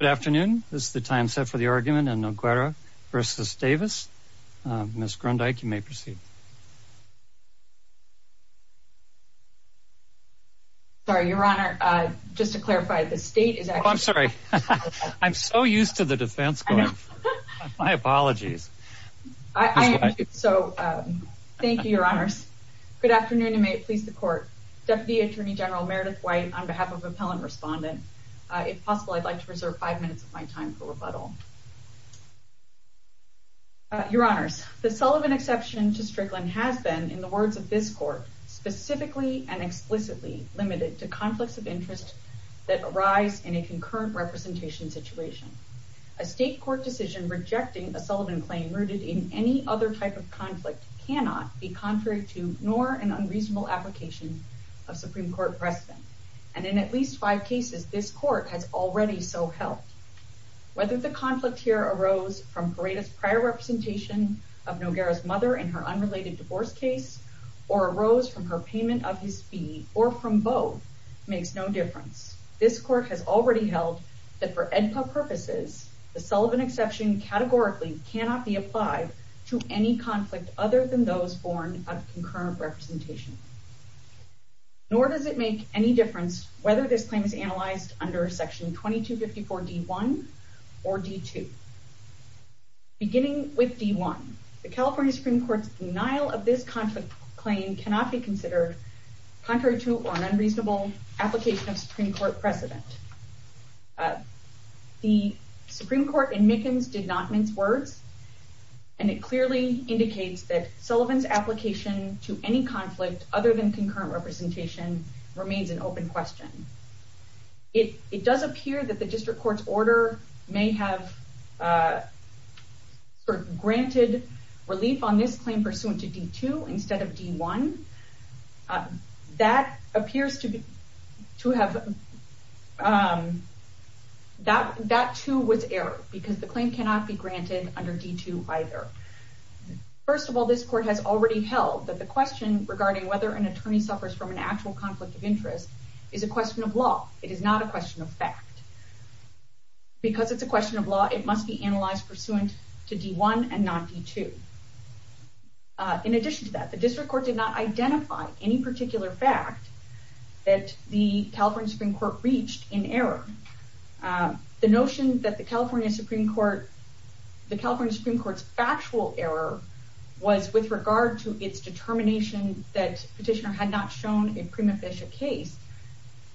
Good afternoon. This is the time set for the argument in Noguera v. Davis. Ms. Grundyke, you may proceed. Sorry, Your Honor, just to clarify, the state is actually... Oh, I'm sorry. I'm so used to the defense going. My apologies. I am too, so thank you, Your Honors. Good afternoon, and may it please the Court. Deputy Attorney General Meredith White on behalf of Appellant Respondent. If possible, I'd like to reserve five minutes of my time for rebuttal. Your Honors, the Sullivan exception to Strickland has been, in the words of this Court, specifically and explicitly limited to conflicts of interest that arise in a concurrent representation situation. A state court decision rejecting a Sullivan claim rooted in any other type of conflict cannot be contrary to nor an unreasonable application of Supreme Court precedent. And in at least five cases, this Court has already so helped. Whether the conflict here arose from Paredes' prior representation of Noguera's mother in her unrelated divorce case, or arose from her payment of his fee, or from both, makes no difference. This Court has already held that for AEDPA purposes, the Sullivan exception categorically cannot be applied to any conflict other than those born of concurrent representation. Nor does it make any difference whether this claim is analyzed under Section 2254 D.1 or D.2. Beginning with D.1, the California Supreme Court's denial of this conflict claim cannot be considered contrary to or an unreasonable application of Supreme Court precedent. The clearly indicates that Sullivan's application to any conflict other than concurrent representation remains an open question. It does appear that the district court's order may have granted relief on this claim pursuant to D.2 instead of D.1. That too was error, because the claim cannot be granted under D.2 either. First of all, this Court has already held that the question regarding whether an attorney suffers from an actual conflict of interest is a question of law. It is not a question of fact. Because it's a question of law, it must be analyzed pursuant to D.1 and not D.2. In addition to that, the district court did not identify any particular fact that the California Supreme Court reached in error. The notion that the California Supreme Court's factual error was with regard to its determination that petitioner had not shown a prima facie case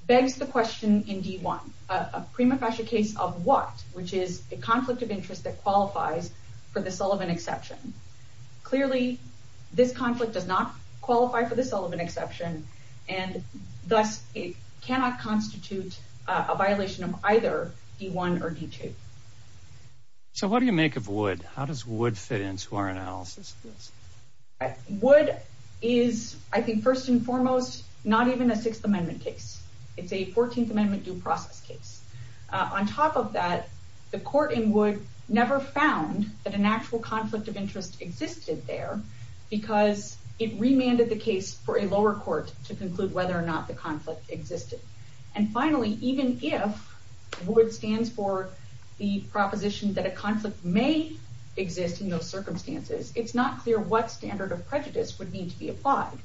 begs the question in D.1. A prima facie case of what? Which is a conflict of interest that qualifies for the Sullivan exception. Clearly, this conflict does not qualify for the Sullivan exception and thus it cannot constitute a conflict of interest. So what do you make of WOOD? How does WOOD fit into our analysis? WOOD is, I think first and foremost, not even a Sixth Amendment case. It's a Fourteenth Amendment due process case. On top of that, the Court in WOOD never found that an actual conflict of interest existed there because it remanded the case for a lower court to the proposition that a conflict may exist in those circumstances. It's not clear what standard of prejudice would need to be applied,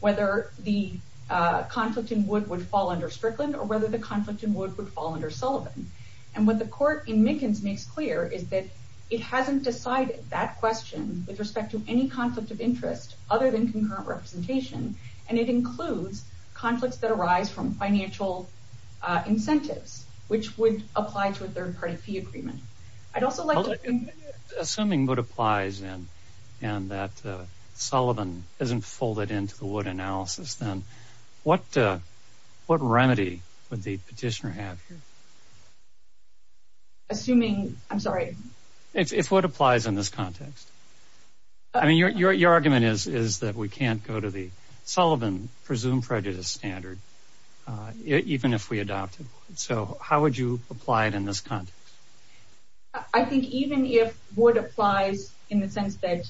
whether the conflict in WOOD would fall under Strickland or whether the conflict in WOOD would fall under Sullivan. And what the Court in Mickens makes clear is that it hasn't decided that question with respect to any conflict of interest other than concurrent representation, and it includes conflicts that arise from Assuming WOOD applies and that Sullivan isn't folded into the WOOD analysis, then what remedy would the petitioner have here? Assuming, I'm sorry. If WOOD applies in this context. I mean, your argument is that we can't go to the Sullivan presumed prejudice standard even if we adopted WOOD. So how would you apply it in this context? I think even if WOOD applies in the sense that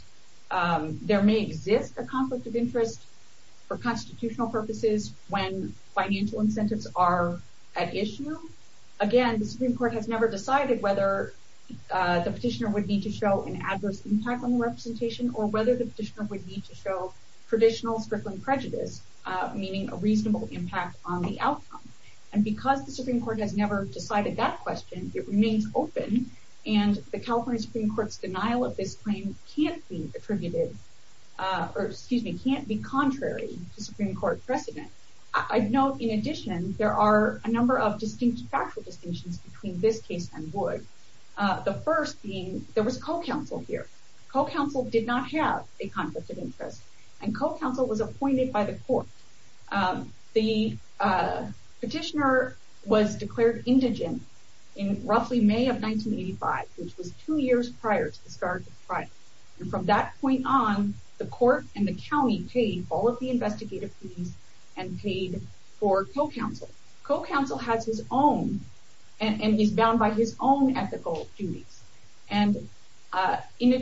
there may exist a conflict of interest for constitutional purposes when financial incentives are at issue, again, the Supreme Court has never decided whether the petitioner would need to show an adverse impact on the representation or whether the petitioner would need to show traditional Strickland prejudice, meaning a reasonable impact on the outcome. And because the Supreme Court has never decided that question, it remains open, and the California Supreme Court's denial of this claim can't be attributed, or excuse me, can't be contrary to Supreme Court precedent. I'd note, in addition, there are a number of distinct factual distinctions between this case and WOOD. The first being there was co-counsel here. Co-counsel did not have a conflict of interest, and co-counsel was appointed by the court. The petitioner was declared indigent in roughly May of 1985, which was two years prior to the start of the trial. And from that point on, the court and the county paid all of the investigative fees and paid for co-counsel. Co-counsel has his own, and is bound by his own ethical duties. And in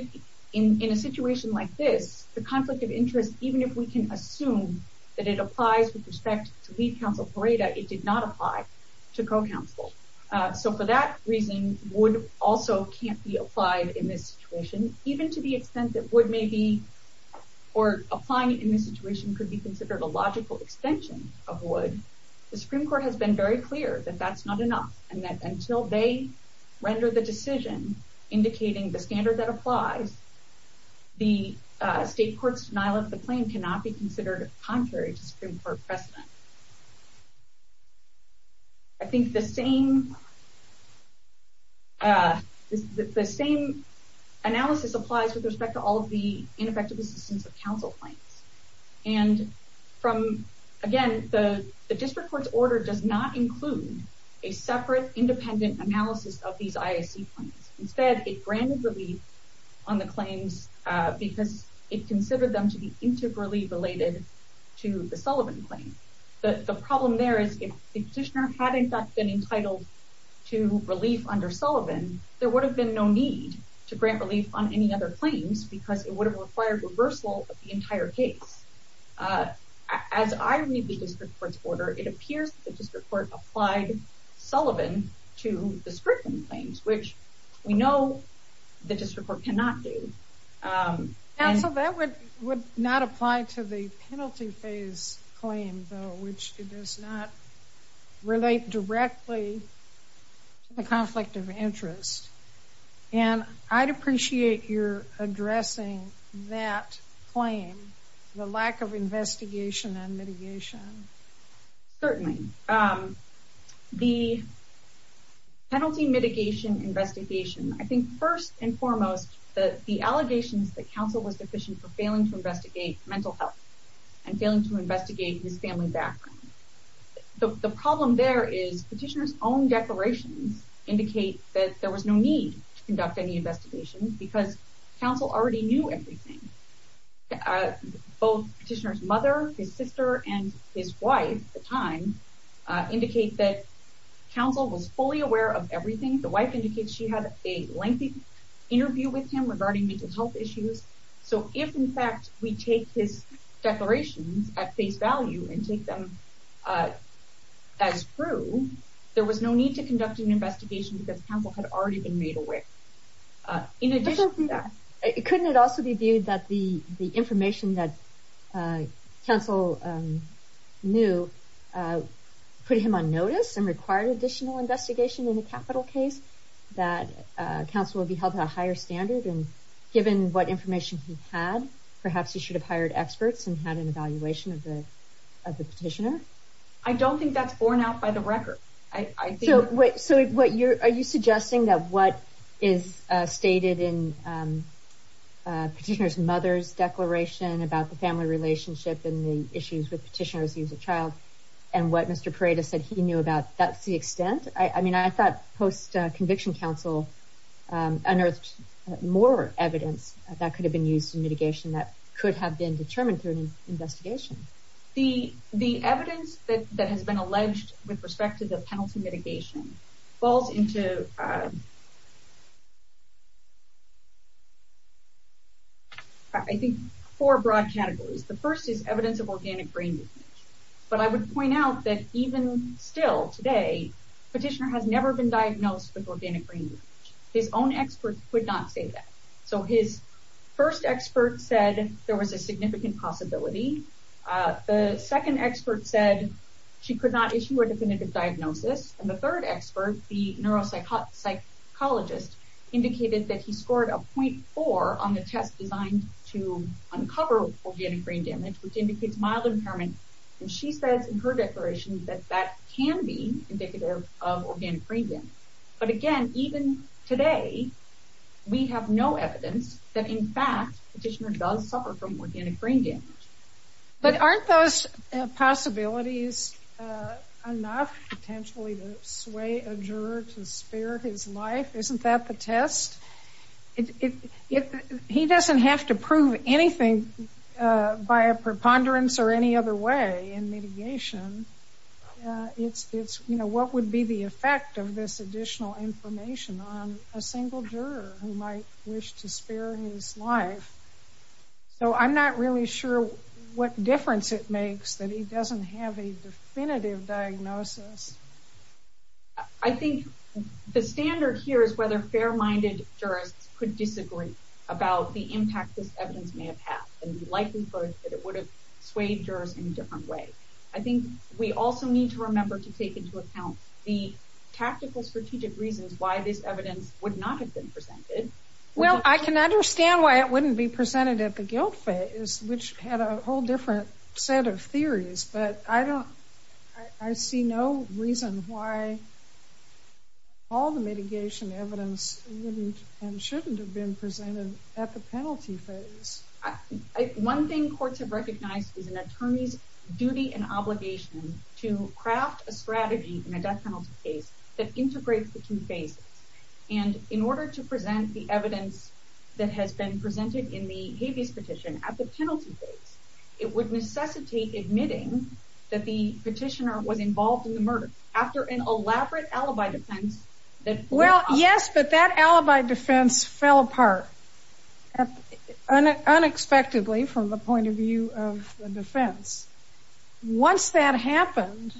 a situation like this, the conflict of interest, even if we can assume that it applies with respect to lead counsel Pareda, it did not apply to co-counsel. So for that reason, WOOD also can't be applied in this situation, even to the extent that WOOD may be, or applying it in this situation could be considered a logical extension of WOOD. The Supreme Court has been very clear that that's not enough, and that until they render the decision indicating the standard that applies, the state court's denial of the claim cannot be considered contrary to Supreme Court precedent. I think the same analysis applies with respect to all of the ineffective assistance of counsel claims. And from, again, the district court's order does not include a separate independent analysis of these IAC claims. Instead, it granted relief on the claims because it considered them to be integrally related to the Sullivan claim. The problem there is if the petitioner hadn't been entitled to relief under Sullivan, there would have been no need to grant relief on any other claims because it would have required reversal of the entire case. As I read the district court's order, it appears that the district court applied Sullivan to the Scripton claims, which we know the district court cannot do. Now, so that would not apply to the penalty phase claim, though, which it does not relate directly to the conflict of interest. And I'd appreciate your addressing that claim, the lack of investigation and mitigation. Certainly. The penalty mitigation investigation, I think first and foremost, the allegations that counsel was deficient for failing to investigate mental health and to investigate his family background. The problem there is petitioner's own declarations indicate that there was no need to conduct any investigation because counsel already knew everything. Both petitioner's mother, his sister, and his wife at the time indicate that counsel was fully aware of everything. The wife indicates she had a lengthy interview with him regarding mental health issues. So if in fact we take his declarations at face value and take them as true, there was no need to conduct an investigation because counsel had already been made aware. In addition to that, couldn't it also be viewed that the information that counsel knew put him on notice and required additional investigation in the capital case that counsel would be held at a higher standard? And given what information he had, perhaps he should have hired experts and had an evaluation of the petitioner. I don't think that's borne out by the record. So are you suggesting that what is stated in petitioner's mother's declaration about the family relationship and the issues with petitioner as he was a child and what Mr. Paredes said he knew about, that's the extent? I mean, I thought post-conviction counsel unearthed more evidence that could have been used in mitigation that could have been determined through an investigation. The evidence that has been alleged with respect to the penalty mitigation falls into, I think, four broad categories. The first is evidence of organic brain damage. But I would point out that even still today, petitioner has never been diagnosed with organic brain damage. His own expert could not say that. So his first expert said there was a significant possibility. The second expert said she could not issue a definitive diagnosis. And the third expert, the neuropsychologist, indicated that he scored a 0.4 on the test designed to impairment. And she says in her declaration that that can be indicative of organic brain damage. But again, even today, we have no evidence that in fact petitioner does suffer from organic brain damage. But aren't those possibilities enough potentially to sway a juror to spare his life? Isn't that the test? He doesn't have to prove anything by a preponderance or any other way in mitigation. It's what would be the effect of this additional information on a single juror who might wish to spare his life. So I'm not really sure what difference it makes that he doesn't have a definitive diagnosis. I think the standard here is whether fair-minded jurists could disagree about the impact this evidence may have had. And likely that it would have swayed jurors in a different way. I think we also need to remember to take into account the tactical strategic reasons why this evidence would not have been presented. Well, I can understand why it wouldn't be presented at the guilt phase, which had a whole different set of theories. But I don't, I see no reason why all the mitigation evidence wouldn't and shouldn't have been presented at the penalty phase. One thing courts have recognized is an attorney's duty and obligation to craft a strategy in a death penalty case that integrates the two phases. And in order to present the evidence that has been presented at the previous petition, at the penalty phase, it would necessitate admitting that the petitioner was involved in the murder after an elaborate alibi defense. Well, yes, but that alibi defense fell apart unexpectedly from the point of view of the defense. Once that happened,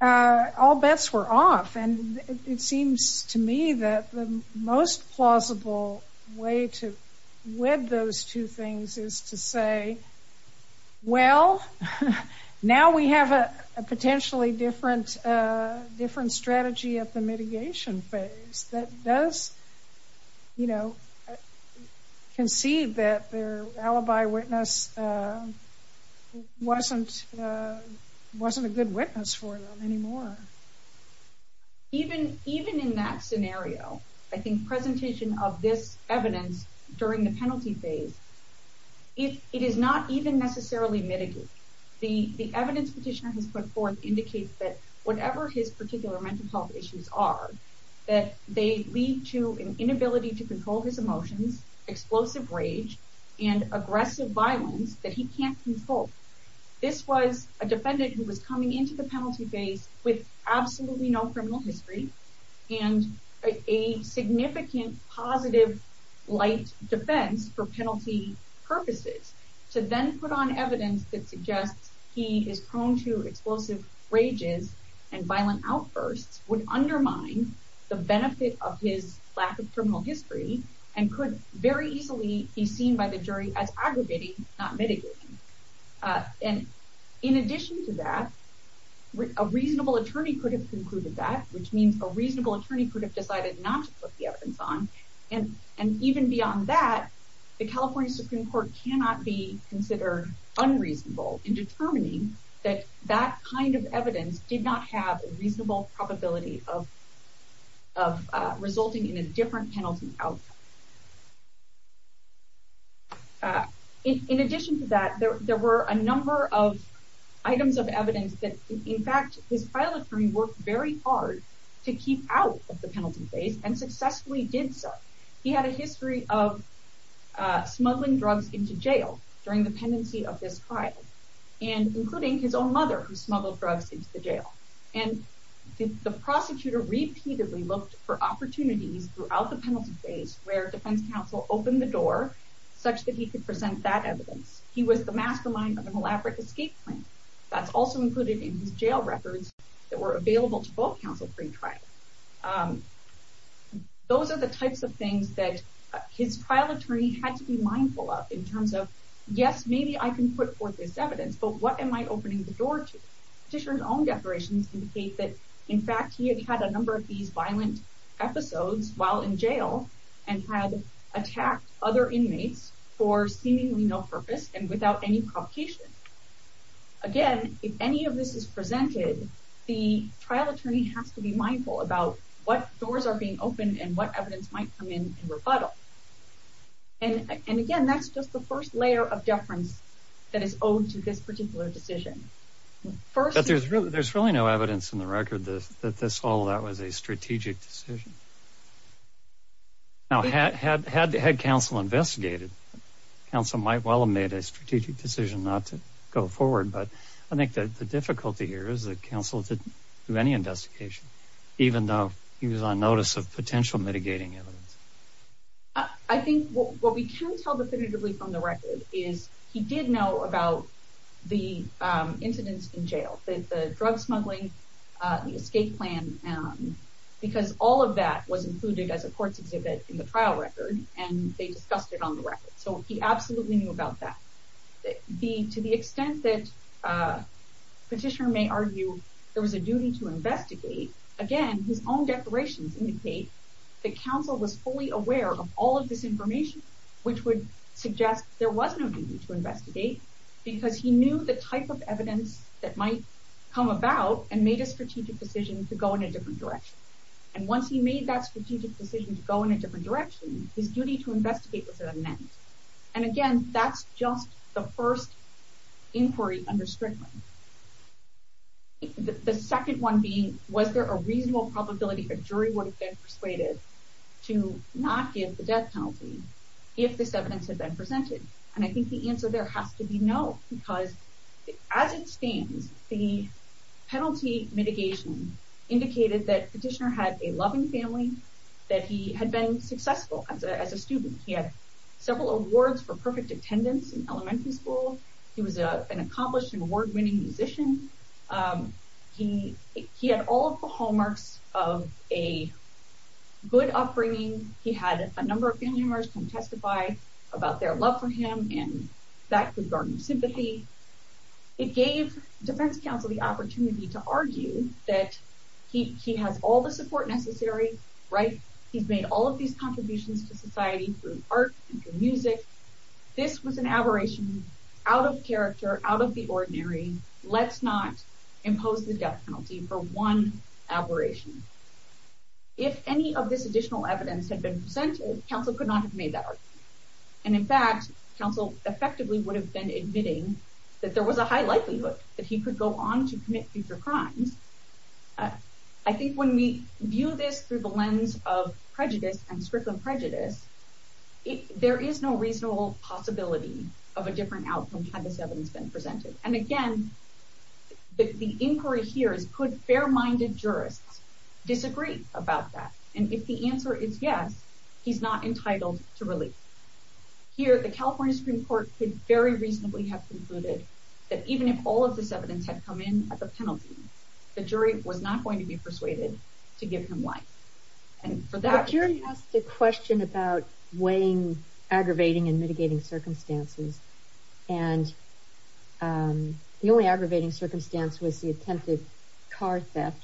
all bets were off. And it seems to me that the most plausible way to web those two things is to say, well, now we have a potentially different strategy at the mitigation phase that does, you know, concede that their alibi witness wasn't a good witness for them anymore. Even in that scenario, I think presentation of this evidence during the penalty phase, it is not even necessarily mitigated. The evidence petitioner has put forth indicates that whatever his particular mental health issues are, that they lead to an inability to control his emotions, explosive rage, and aggressive violence that he can't control. This was a defendant who was coming into the penalty phase with absolutely no criminal history and a significant positive light defense for penalty purposes to then put on evidence that suggests he is prone to and violent outbursts would undermine the benefit of his lack of criminal history, and could very easily be seen by the jury as aggregating, not mitigating. And in addition to that, a reasonable attorney could have concluded that, which means a reasonable attorney could have decided not to put the evidence on. And even beyond that, the California Supreme Court cannot be a reasonable probability of resulting in a different penalty outcome. In addition to that, there were a number of items of evidence that, in fact, his file attorney worked very hard to keep out of the penalty phase and successfully did so. He had a history of smuggling drugs into jail during the pendency of this trial, and including his own mother who smuggled drugs into the jail. And the prosecutor repeatedly looked for opportunities throughout the penalty phase where defense counsel opened the door such that he could present that evidence. He was the mastermind of an elaborate escape plan. That's also included in his jail records that were available to both counsel pre-trial. Those are the types of things that his trial attorney had to be mindful of in terms of, yes, maybe I can put forth this evidence, but what am I opening the door to? Petitioner's own declarations indicate that, in fact, he had had a number of these violent episodes while in jail and had attacked other inmates for seemingly no purpose and without any provocation. Again, if any of this is presented, the trial attorney has to be mindful about what doors are being opened and what evidence might come in in rebuttal. And again, that's just the first layer of deference that is owed to this particular decision. But there's really no evidence in the record that all of that was a strategic decision. Now, had counsel investigated, counsel might well have made a strategic decision not to go forward, but I think that the difficulty here is that counsel didn't do any investigation, even though he was on notice of potential mitigating evidence. I think what we can tell definitively from the record is he did know about the incidents in jail, the drug smuggling, the escape plan, because all of that was included as a court's exhibit in the trial record, and they discussed it on the record. So he absolutely knew about that. To the extent that Petitioner may argue there was a duty to investigate, again, his own declarations indicate that counsel was fully aware of all of this information, which would suggest there was no duty to investigate, because he knew the type of evidence that might come about and made a strategic decision to go in a different direction. And once he made that strategic decision to go in a different direction, his duty to investigate was at an end. And again, that's just the first inquiry under Strickland. The second one being, was there a reasonable probability a jury would have been persuaded to not give the death penalty if this evidence had been presented? And I think the answer there has to be no, because as it stands, the penalty mitigation indicated that Petitioner had a loving family, that he had been successful as a student. He had several awards for perfect attendance in music. He had all of the hallmarks of a good upbringing. He had a number of family members come testify about their love for him, and that could garner sympathy. It gave Defense Counsel the opportunity to argue that he has all the support necessary, right? He's made all of these contributions to society through art and through music. This was an aberration out of the ordinary. Let's not impose the death penalty for one aberration. If any of this additional evidence had been presented, counsel could not have made that argument. And in fact, counsel effectively would have been admitting that there was a high likelihood that he could go on to commit future crimes. I think when we view this through the lens of prejudice and Strickland and again, the inquiry here is could fair-minded jurists disagree about that? And if the answer is yes, he's not entitled to release. Here, the California Supreme Court could very reasonably have concluded that even if all of this evidence had come in at the penalty, the jury was not going to be persuaded to give him life. And for that... The jury asked a question about weighing aggravating and mitigating circumstances. And the only aggravating circumstance was the attempted car theft.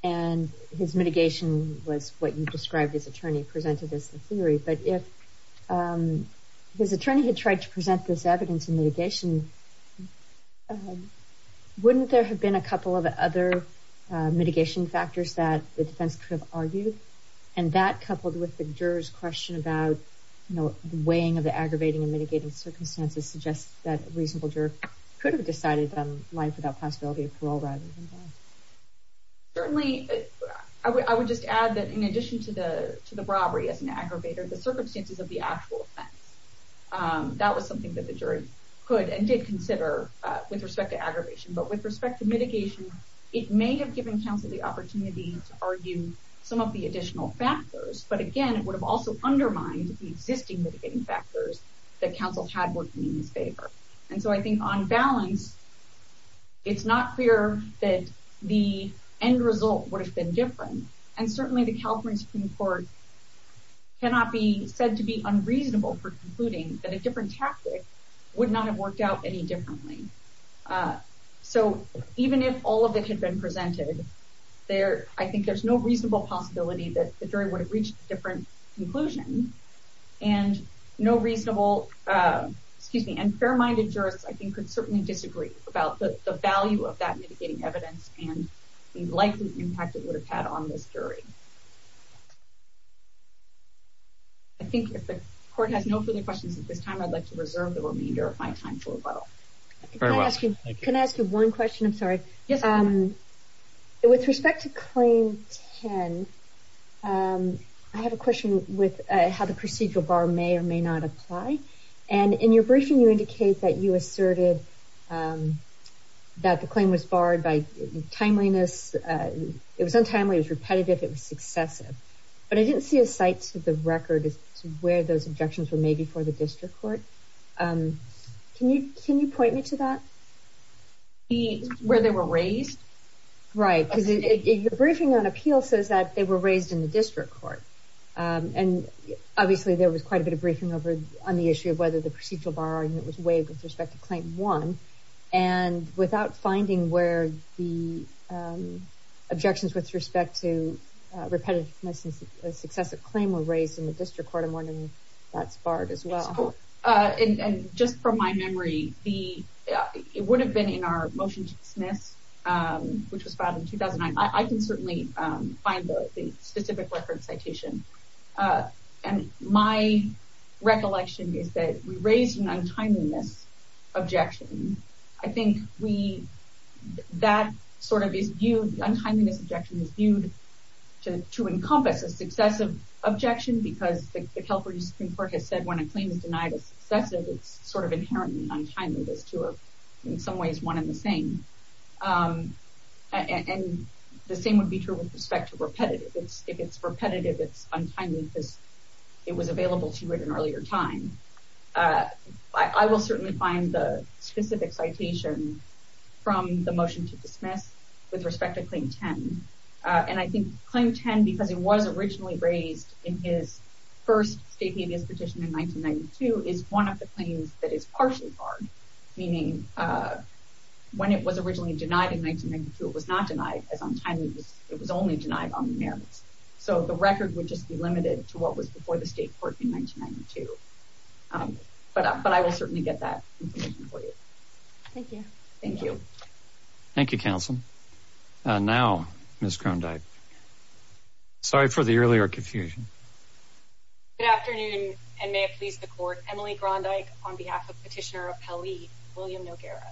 And his mitigation was what you described his attorney presented as the theory. But if his attorney had tried to present this evidence in mitigation, wouldn't there have been a couple of other mitigation factors that the defense could have considered? The question about weighing the aggravating and mitigating circumstances suggests that a reasonable juror could have decided on life without possibility of parole rather than death. Certainly, I would just add that in addition to the to the robbery as an aggravator, the circumstances of the actual offense, that was something that the jury could and did consider with respect to aggravation. But with respect to mitigation, it may have given counsel the existing mitigating factors that counsel had worked in his favor. And so I think on balance, it's not clear that the end result would have been different. And certainly the California Supreme Court cannot be said to be unreasonable for concluding that a different tactic would not have worked out any differently. So even if all of it had been presented there, I think there's no reasonable possibility that the jury would have reached a different conclusion. And fair-minded jurists, I think, could certainly disagree about the value of that mitigating evidence and the likely impact it would have had on this jury. I think if the court has no further questions at this time, I'd like to reserve the remainder of my time for rebuttal. Can I ask you one question? With respect to claim 10, I have a question with how the procedural bar may or may not apply. And in your briefing, you indicate that you asserted that the claim was barred by timeliness. It was untimely, it was repetitive, it was successive. But I didn't see a site to the record where those objections were made before the district court. Can you point me to that? Where they were raised? Right, because your briefing on appeal says that they were raised in the district court. And obviously there was quite a bit of briefing over on the issue of whether the procedural bar was waived with respect to claim 1. And without finding where the objections with respect to repetitiveness and successive claim were raised in the district court, I'm wondering if that's barred as well. And just from my memory, it would have been in our motion to dismiss, which was filed in 2009. I can certainly find the specific reference citation. And my recollection is that we raised an untimeliness objection. I think that sort of is viewed, the untimeliness objection is viewed to encompass a successive objection because the California Supreme Court has said when a claim is denied as successive, it's sort of inherently untimely. Those two are in some ways one and the same. And the same would be true with respect to repetitive. If it's repetitive, it's untimely because it was available to you at an earlier time. I will certainly find the specific citation from the motion to dismiss with respect to claim 10. And I think claim 10, because it was originally raised in his first state habeas petition in 1992, is one of the claims that is partially barred. Meaning when it was originally denied in 1992, it was not denied as untimely, it was only denied on the merits. So the record would just be limited to what was before the state court in 1992. But I will certainly get that information for you. Thank you. Thank you. Thank you, counsel. Now, Ms. Grondyke. Sorry for the earlier confusion. Good afternoon, and may it please the court. Emily Grondyke on behalf of Petitioner of Pelley, William Noguera.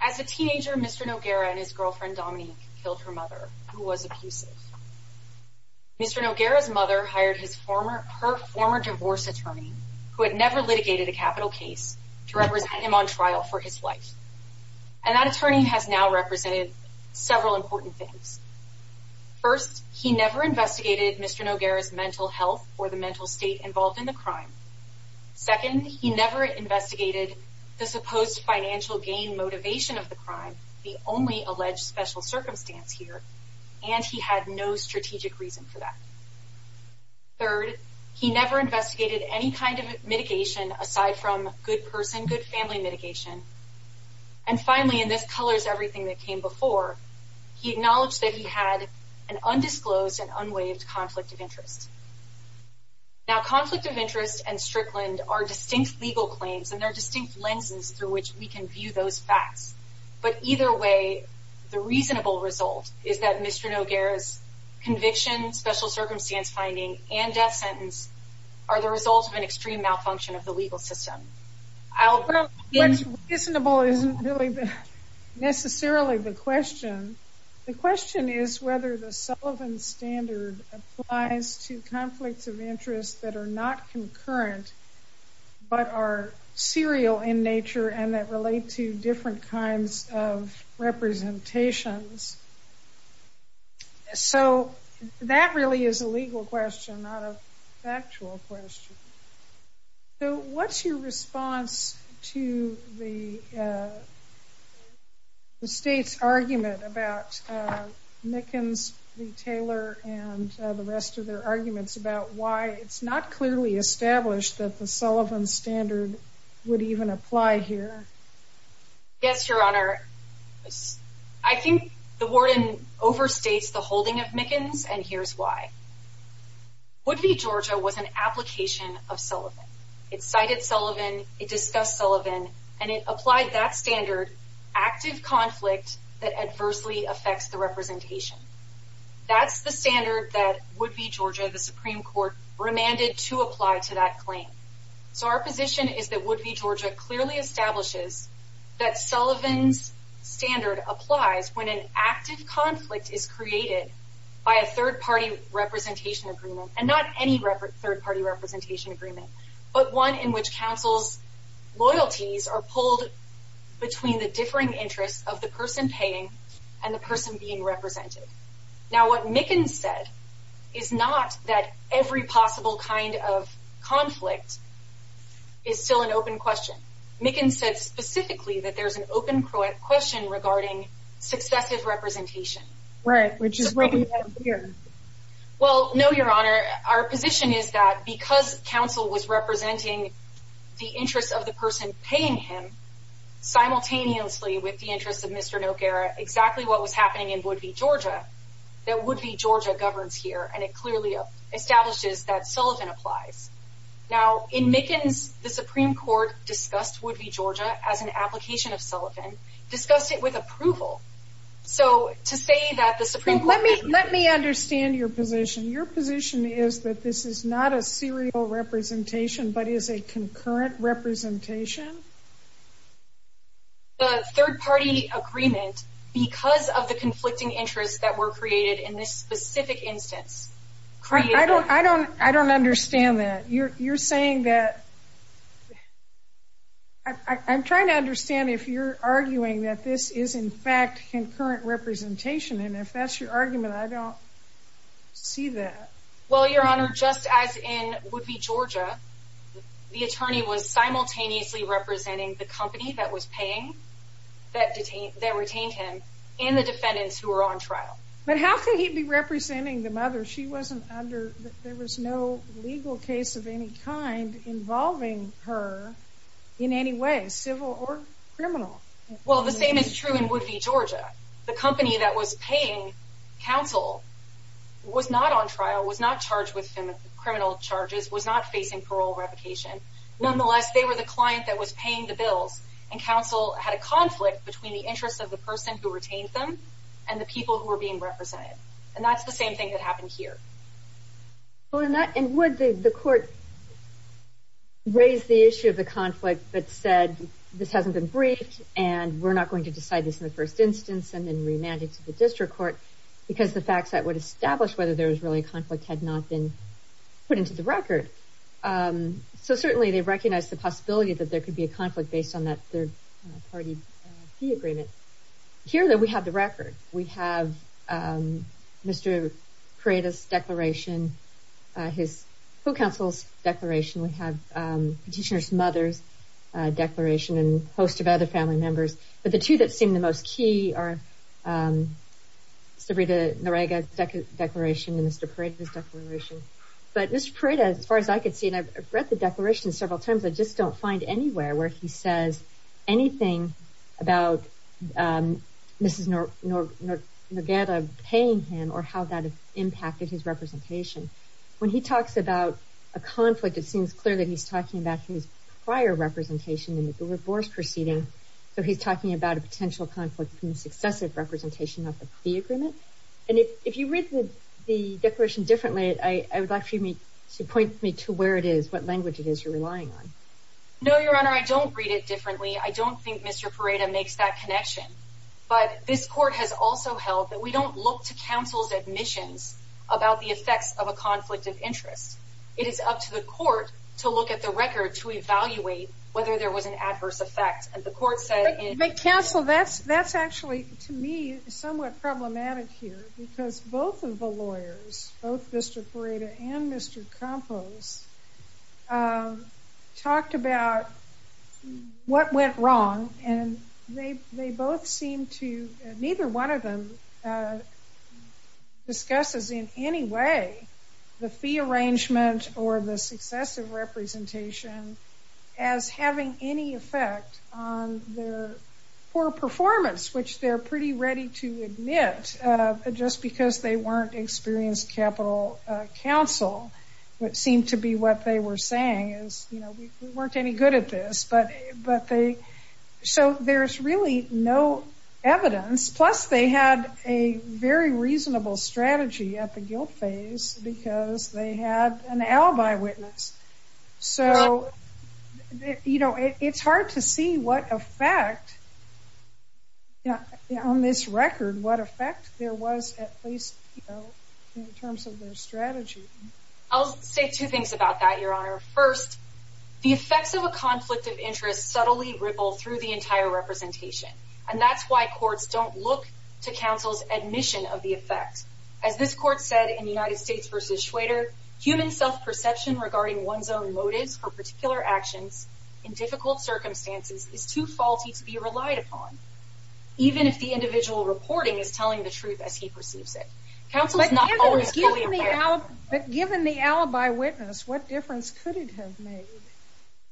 As a teenager, Mr. Noguera and his girlfriend, Dominique, killed her mother, who was abusive. Mr. Noguera's mother hired her former divorce attorney, who had never litigated a capital case, to represent him on trial for his life. And that attorney has now represented several important things. First, he never investigated Mr. Noguera's mental health or the mental state involved in the crime. Second, he never investigated the supposed financial gain motivation of the crime, the only alleged special circumstance here, and he had no strategic reason for that. Third, he never investigated any kind of mitigation, aside from good person, good family mitigation. And finally, and this colors everything that came before, he acknowledged that he had an undisclosed and unwaived conflict of interest. Now, conflict of interest and Strickland are distinct legal claims, and there are distinct Mr. Noguera's conviction, special circumstance finding, and death sentence are the results of an extreme malfunction of the legal system. I'll... What's reasonable isn't really necessarily the question. The question is whether the Sullivan Standard applies to conflicts of interest that are not concurrent, but are serial in nature and that relate to different kinds of representations. So that really is a legal question, not a factual question. So what's your response to the state's argument about Mickens v. Taylor and the rest of their arguments about why it's not clearly established that the Sullivan Standard would even apply here? Yes, Your Honor. I think the warden overstates the holding of Mickens, and here's why. Wood v. Georgia was an application of Sullivan. It cited Sullivan, it discussed Sullivan, and it applied that standard, active conflict that adversely affects the representation. That's the standard that Wood v. Georgia, the Supreme Court, remanded to apply to that claim. So our position is that Wood v. Georgia clearly establishes that Sullivan's standard applies when an active conflict is created by a third-party representation agreement, and not any third-party representation agreement, but one in which counsel's loyalties are pulled between the differing interests of the person paying and the person being represented. Now what Mickens said is not that every possible kind of conflict is still an open question. Mickens said specifically that there's an open question regarding successive representation. Right, which is what we had here. Well, no, Your Honor. Our position is that because counsel was representing the interests of the person paying him, simultaneously with the interests of Mr. Noguera, exactly what was and it clearly establishes that Sullivan applies. Now in Mickens, the Supreme Court discussed Wood v. Georgia as an application of Sullivan, discussed it with approval. So to say that the Supreme Court... Let me understand your position. Your position is that this is not a serial representation, but is a concurrent representation? The third-party agreement, because of the conflicting interests that were created in this specific instance. I don't understand that. You're saying that... I'm trying to understand if you're arguing that this is, in fact, concurrent representation, and if that's your argument, I don't see that. Well, Your Honor, just as in Wood v. Georgia, the attorney was simultaneously representing the company that paying, that retained him, and the defendants who were on trial. But how could he be representing the mother? There was no legal case of any kind involving her in any way, civil or criminal. Well, the same is true in Wood v. Georgia. The company that was paying counsel was not on trial, was not charged with criminal charges, was not facing parole revocation. Nonetheless, they were the client that was paying the bills, and counsel had a conflict between the interests of the person who retained them, and the people who were being represented. And that's the same thing that happened here. Well, in that... And would the court raise the issue of the conflict that said, this hasn't been briefed, and we're not going to decide this in the first instance, and then remand it to the district court, because the facts that would establish whether there was really a conflict had not been put into the record. So certainly, they recognize the possibility that there could be a conflict based on that third-party key agreement. Here, though, we have the record. We have Mr. Paredes' declaration, his full counsel's declaration. We have Petitioner's mother's declaration, and a host of other family members. But the two that seem the most key are Sarita Nurega's declaration and Mr. Paredes' declaration. But Mr. Paredes, as far as I could see, and I've read the declaration several times, I just don't find anywhere where he says anything about Mrs. Noguera paying him, or how that impacted his representation. When he talks about a conflict, it seems clear that he's talking about his prior representation in the Gula Gores proceeding. So he's talking about a potential conflict in successive representation of the agreement. And if you read the declaration differently, I would like you to point me to where it is, what language it is you're relying on. No, Your Honor, I don't read it differently. I don't think Mr. Paredes makes that connection. But this court has also held that we don't look to counsel's admissions about the effects of a conflict of interest. It is up to the court to look at the record to evaluate whether there was an adverse effect. And the court said... Counsel, that's actually, to me, somewhat problematic here. Because both of the lawyers, both Mr. Paredes and Mr. Campos, talked about what went wrong. And they both seem to, neither one of them discusses in any way the fee arrangement or the successive representation as having any effect on their poor performance, which they're pretty ready to admit just because they weren't experienced capital counsel. It seemed to be what they were saying is, we weren't any good at this. So there's really no evidence. Plus, they had a very reasonable strategy at the guilt phase because they had an alibi witness. So it's hard to see what effect on this record, what effect there was at least in terms of their strategy. I'll say two things about that, Your Honor. First, the effects of a conflict of interest subtly ripple through the entire representation. And that's why courts don't look to counsel's admission of the effect. As this court said in United States v. Shwader, human self-perception regarding one's own motives for particular actions in difficult circumstances is too faulty to be relied upon, even if the individual reporting is telling the truth as he perceives it. But given the alibi witness, what difference could it have made?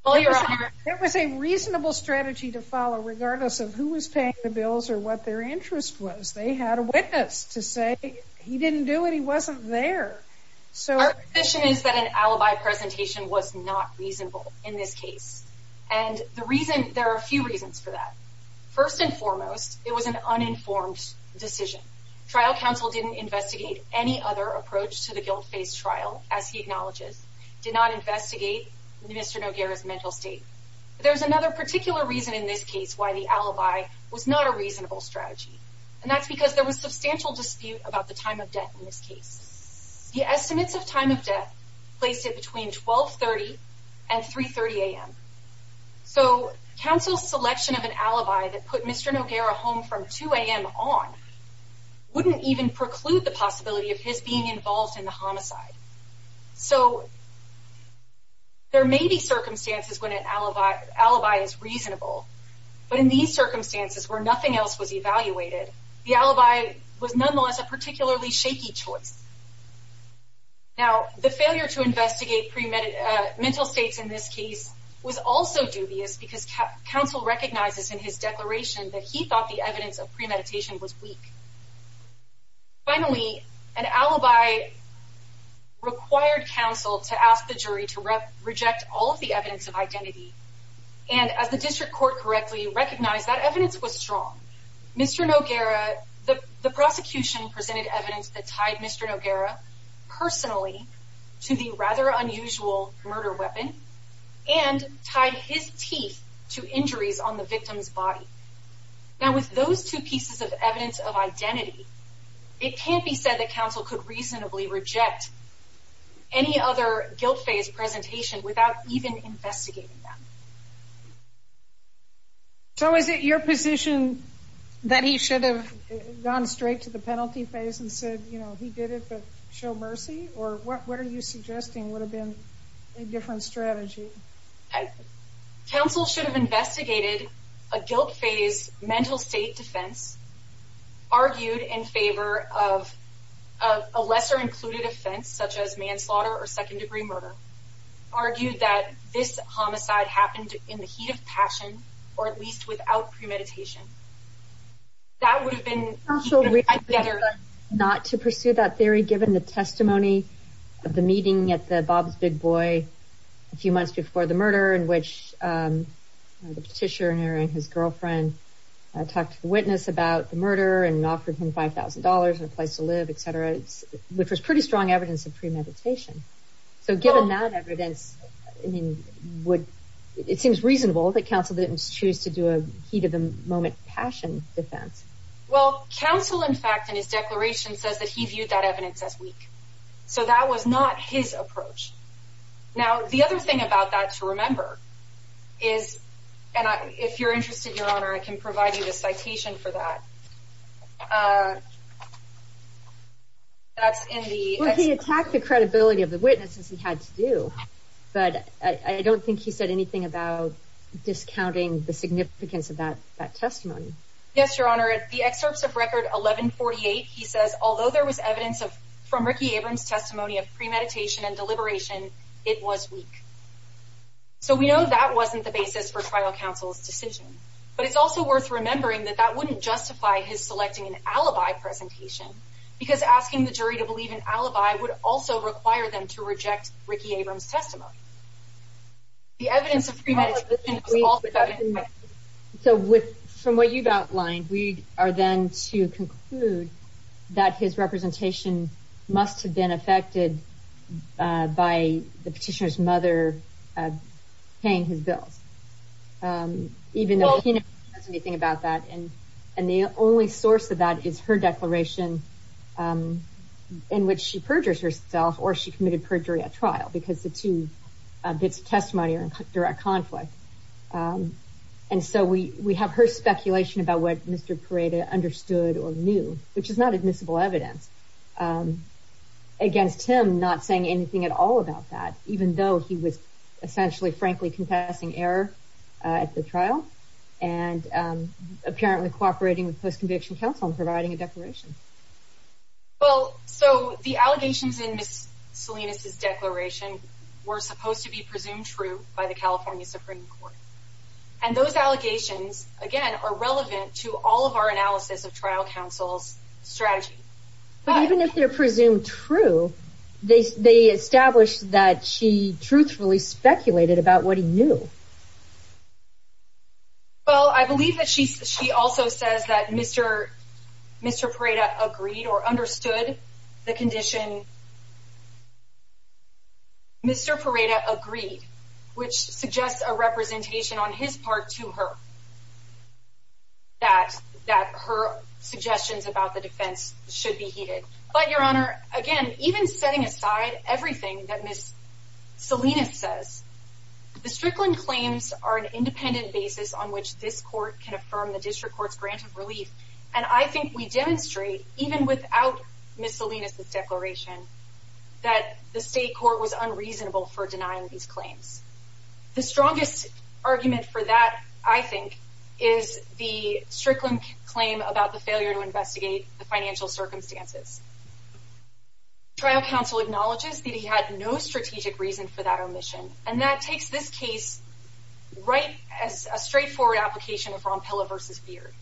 There was a reasonable strategy to follow regardless of who was paying the bills or what their interest was. They had a witness to say he didn't do it, he wasn't there. So our position is that an alibi presentation was not reasonable in this case. And the reason, there are a few reasons for that. First and foremost, it was an uninformed decision. Trial counsel didn't investigate any other approach to the guilt phase trial, as he acknowledges, did not investigate Mr. Noguera's mental state. There's another particular reason in this case why the alibi was not a reasonable strategy. And that's because there was substantial dispute about the time of death in this case. The estimates of time of death placed it between 1230 and 330 a.m. So counsel's selection of an alibi that put Mr. Noguera home from 2 a.m. on wouldn't even preclude the possibility of his being involved in the homicide. So there may be circumstances when an alibi is reasonable. But in these circumstances where nothing else was evaluated, the alibi was nonetheless a particularly shaky choice. Now, the failure to investigate mental states in this case was also dubious because counsel recognizes in his declaration that he thought the evidence of premeditation was weak. Finally, an alibi required counsel to ask the jury to reject all of the evidence of identity. And as the district court correctly recognized, that evidence was strong. Mr. Noguera, the prosecution presented evidence that tied Mr. Noguera personally to the rather unusual murder weapon and tied his teeth to injuries on the victim's body. Now, with those two pieces of evidence of identity, it can't be said that counsel could reasonably reject any other guilt phase presentation without even investigating them. So is it your position that he should have gone straight to the penalty phase and said, you know, he did it, but show mercy? Or what are you suggesting would have been a different strategy? Counsel should have investigated a guilt phase mental state defense, argued in favor of a lesser included offense such as manslaughter or second degree murder, argued that this homicide happened in the heat of passion, or at least without premeditation. That would have been better not to pursue that theory, given the testimony of the meeting at the Bob's Big Boy a few months before the murder in which the petitioner and his girlfriend talked to the witness about the murder and offered him $5,000 and a place to live, et cetera, which was pretty strong evidence of premeditation. So given that evidence, I mean, it seems reasonable that choose to do a heat of the moment passion defense. Well, counsel, in fact, in his declaration says that he viewed that evidence as weak. So that was not his approach. Now, the other thing about that to remember is, and if you're interested, Your Honor, I can provide you the citation for that. That's in the... Well, he attacked the credibility of the witnesses he had to do, but I don't think he said anything about discounting the significance of that testimony. Yes, Your Honor, at the excerpts of record 1148, he says, although there was evidence of from Ricky Abrams testimony of premeditation and deliberation, it was weak. So we know that wasn't the basis for trial counsel's decision, but it's also worth remembering that that wouldn't justify his selecting an alibi presentation, because asking the jury to believe in alibi would also require them to reject Ricky Abrams testimony. The evidence of premeditation is also... So from what you've outlined, we are then to conclude that his representation must have been affected by the petitioner's mother paying his bills, even though he never says anything about that. And the only source of that is her declaration in which she perjures herself or she committed perjury at trial, because the two bits of testimony are in direct conflict. And so we have her speculation about what Mr. Parada understood or knew, which is not admissible evidence, against him not saying anything at all about that, even though he was essentially, frankly, confessing error at the trial and apparently cooperating with post-conviction counsel in providing a declaration. Well, so the allegations in Ms. Salinas' declaration were supposed to be presumed true by the California Supreme Court. And those allegations, again, are relevant to all of our analysis of trial counsel's strategy. But even if they're presumed true, they established that she truthfully speculated about what he knew. Well, I believe that she also says that Mr. Parada agreed or understood the condition. Mr. Parada agreed, which suggests a representation on his part to her, that her suggestions about the defense should be heeded. But, Your Honor, again, even setting aside everything that Ms. Salinas says, the Strickland claims are an independent basis on which this court can affirm the district court's grant of relief. And I think we demonstrate, even without Ms. Salinas' declaration, that the state court was unreasonable for denying these claims. The strongest argument for that, I think, is the Strickland claim about the failure to investigate the financial circumstances. Trial counsel acknowledges that he had no strategic reason for that omission. And that takes this case right as a straightforward application of Rompella v. Beard.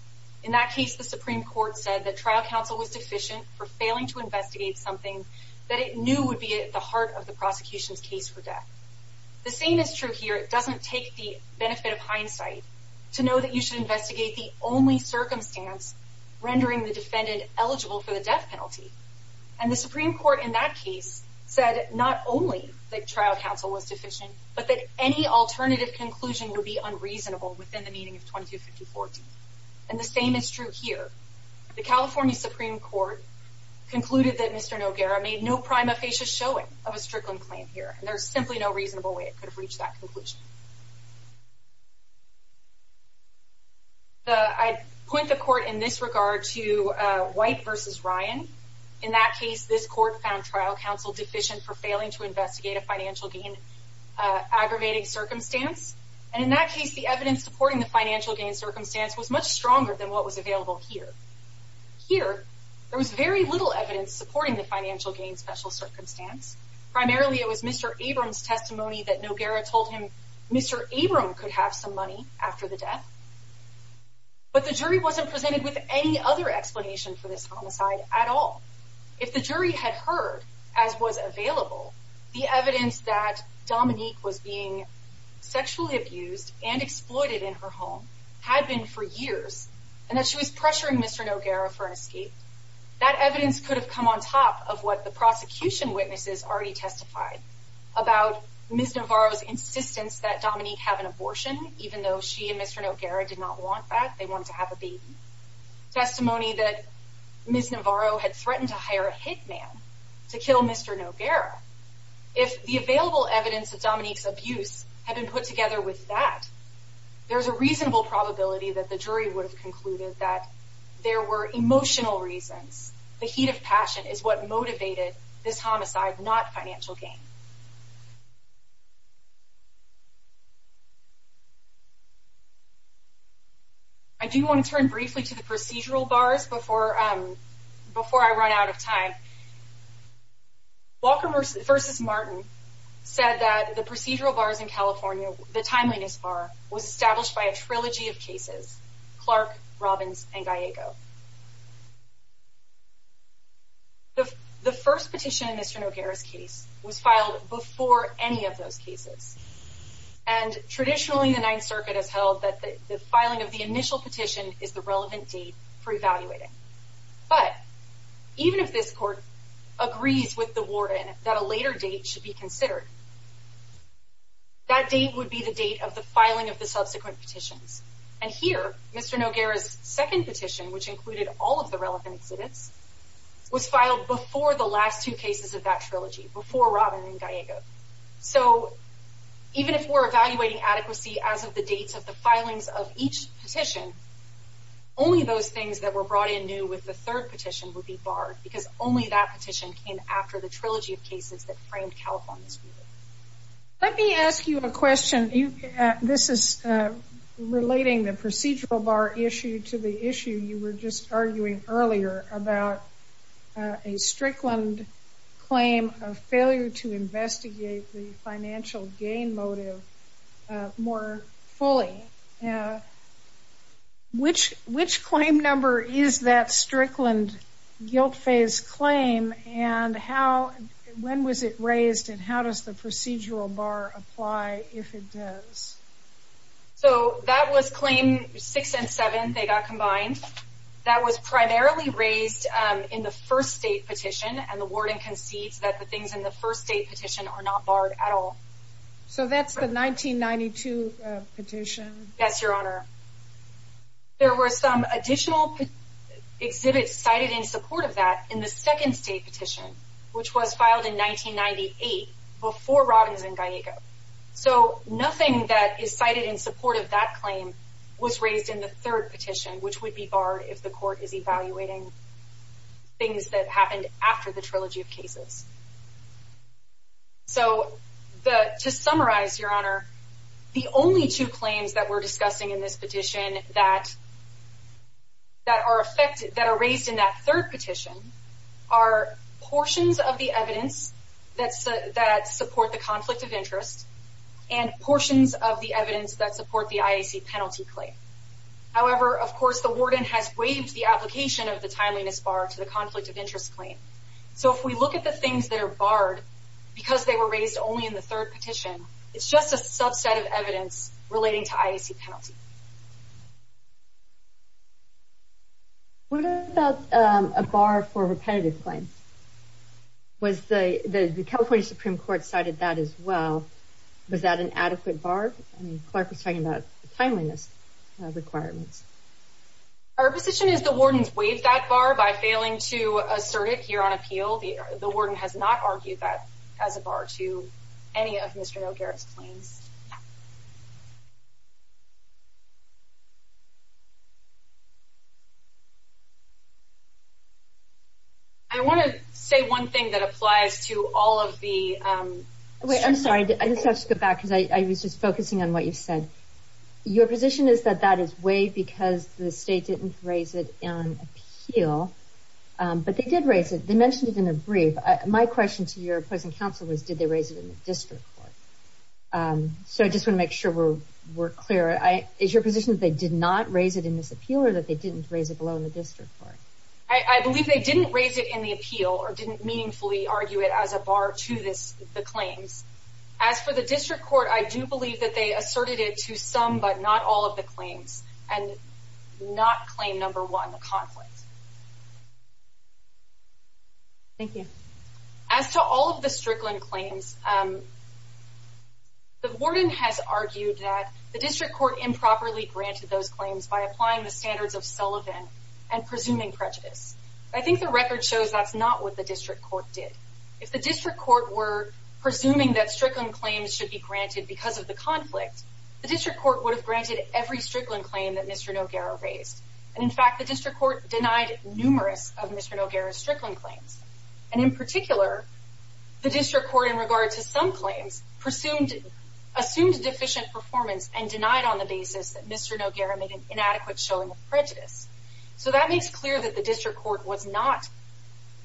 In that case, the Supreme Court said that trial counsel was deficient for failing to investigate something that it knew would be at the heart of the prosecution's case for death. The same is true here. It doesn't take the benefit of hindsight to know that you should investigate the only circumstance rendering the defendant eligible for the death penalty. And the Supreme Court, in that case, said not only that trial counsel was deficient, but that any alternative conclusion would be unreasonable within the meaning of 2250-14. And the same is true here. The California Supreme Court concluded that Mr. Noguera made no prima facie showing of a Strickland claim here. There's simply no reasonable way it could have reached that conclusion. I'd point the court in this regard to White v. Ryan. In that case, this court found trial counsel deficient for failing to investigate a financial gain aggravating circumstance. And in that case, the evidence supporting the financial gain circumstance was much stronger than what was available here. Here, there was very little evidence supporting the financial gain special circumstance. Primarily, it was Mr. Abrams' testimony that Noguera told him Mr. Abrams could have some money after the death. But the jury wasn't presented with any other explanation for this homicide at all. If the jury had heard, as was available, the evidence that Dominique was being sexually abused and exploited in her home had been for years, and that she was pressuring Mr. Noguera for an escape, that evidence could have come on top of what the prosecution witnesses already testified about Ms. Navarro's insistence that Dominique have an abortion, even though she and Mr. Noguera did not want that. They wanted to have a baby. Testimony that Ms. Navarro had threatened to hire a hitman to kill Mr. Noguera. If the available evidence of Dominique's abuse had been put together with that, there's a reasonable probability that the jury would have concluded that there were emotional reasons. The heat of passion is what motivated this homicide, not financial gain. I do want to turn briefly to the procedural bars before I run out of time. Walker v. Martin said that the procedural bars in California, the Timeliness Bar, was established by a trilogy of cases, Clark, Robbins, and Gallego. The first petition in Mr. Noguera's case was filed before any of those cases, and traditionally, the Ninth Circuit has held that the filing of the initial petition is the relevant date for evaluating. But, even if this court agrees with the warden that a later date should be considered, that date would be the date of the filing of the subsequent petitions. Here, Mr. Noguera's second petition, which included all of the relevant incidents, was filed before the last two cases of that trilogy, before Robbins and Gallego. Even if we're evaluating adequacy as of the dates of the filings of each petition, only those things that were brought in new with the third petition would be barred, because only that petition came after the trilogy of cases that framed California's ruling. Let me ask you a question. This is relating the procedural bar issue to the issue you were just arguing earlier about a Strickland claim of failure to investigate the financial gain motive more fully. Which claim number is that Strickland guilt phase claim, and when was it raised, and how does the procedural bar apply if it does? So, that was claim six and seven. They got combined. That was primarily raised in the first state petition, and the warden concedes that the things in the first state petition are not barred at all. So, that's the 1992 petition? Yes, Your Honor. There were some additional exhibits cited in support of that in the second state petition, which was filed in 1998, before Robbins and Gallego. So, nothing that is cited in support of that claim was raised in the third petition, which would be barred if the court is evaluating things that happened after the trilogy of cases. So, to summarize, Your Honor, the only two claims that we're discussing in this petition that are raised in that third petition are portions of the evidence that support the conflict of interest and portions of the evidence that support the IAC penalty claim. However, of course, the warden has waived the application of the timeliness bar to the conflict of interest claim. So, if we look at the things that are barred because they were raised only in the third petition, it's just a subset of evidence relating to IAC penalty. What about a bar for repetitive claims? The California Supreme Court cited that as well. Was that an adequate bar? I mean, Clark was talking about timeliness requirements. Our position is the warden's waived that bar by failing to assert it here on appeal. The warden has not argued that as a bar to any of Mr. O'Garrett's claims. I want to say one thing that applies to all of the... Wait, I'm sorry. I just have to go back because I was just focusing on what you said. Your position is that that is waived because the state didn't raise it on appeal, but they did My question to your opposing counsel was, did they raise it in the district court? So, I just want to make sure we're clear. Is your position that they did not raise it in this appeal or that they didn't raise it below the district court? I believe they didn't raise it in the appeal or didn't meaningfully argue it as a bar to the claims. As for the district court, I do believe that they asserted it to some but not all of the claims and not claim one, the conflict. Thank you. As to all of the Strickland claims, the warden has argued that the district court improperly granted those claims by applying the standards of Sullivan and presuming prejudice. I think the record shows that's not what the district court did. If the district court were presuming that Strickland claims should be granted because of the conflict, the district court would have granted every Strickland claim that Mr. Noguera had. In fact, the district court denied numerous of Mr. Noguera's Strickland claims. And in particular, the district court, in regard to some claims, assumed deficient performance and denied on the basis that Mr. Noguera made an inadequate showing of prejudice. So, that makes clear that the district court was not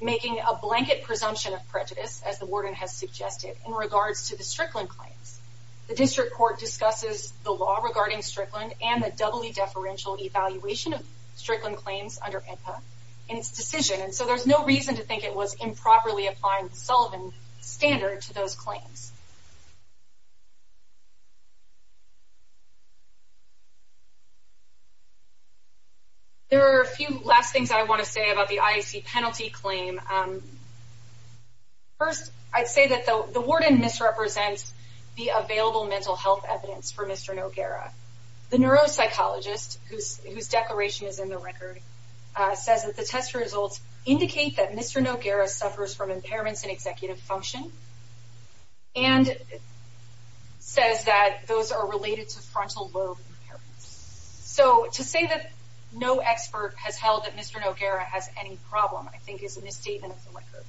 making a blanket presumption of prejudice, as the warden has suggested, in regards to the Strickland claims. The district court discusses the law regarding Strickland and the doubly deferential evaluation of Strickland claims under IHPA in its decision. And so, there's no reason to think it was improperly applying the Sullivan standard to those claims. There are a few last things I want to say about the IAC penalty claim. First, I'd say that the warden misrepresents the available mental health evidence for Mr. Noguera. The neuropsychologist, whose declaration is in the record, says that the test results indicate that Mr. Noguera suffers from impairments in executive function and says that those are related to frontal lobe impairments. So, to say that no expert has held that Mr. Noguera has any problem, I think, is a misstatement of the record.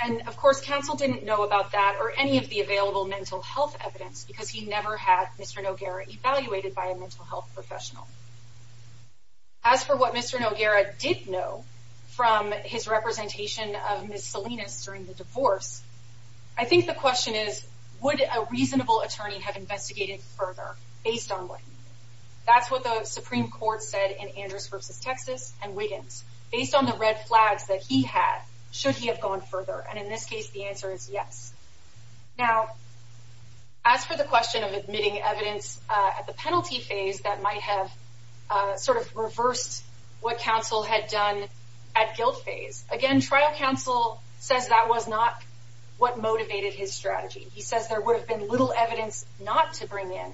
And, of course, counsel didn't know about that or any of the available mental health evidence because he never had Mr. Noguera evaluated by a mental health professional. As for what Mr. Noguera did know from his representation of Ms. Salinas during the divorce, I think the question is, would a reasonable attorney have investigated further based on what he knew? That's what the Supreme Court said in Andrews versus Texas and Wiggins. Based on the red flags that he had, should he have gone further? And in this case, the answer is yes. Now, as for the question of admitting evidence at the penalty phase that might have sort of reversed what counsel had done at guilt phase, again, trial counsel says that was what motivated his strategy. He says there would have been little evidence not to bring in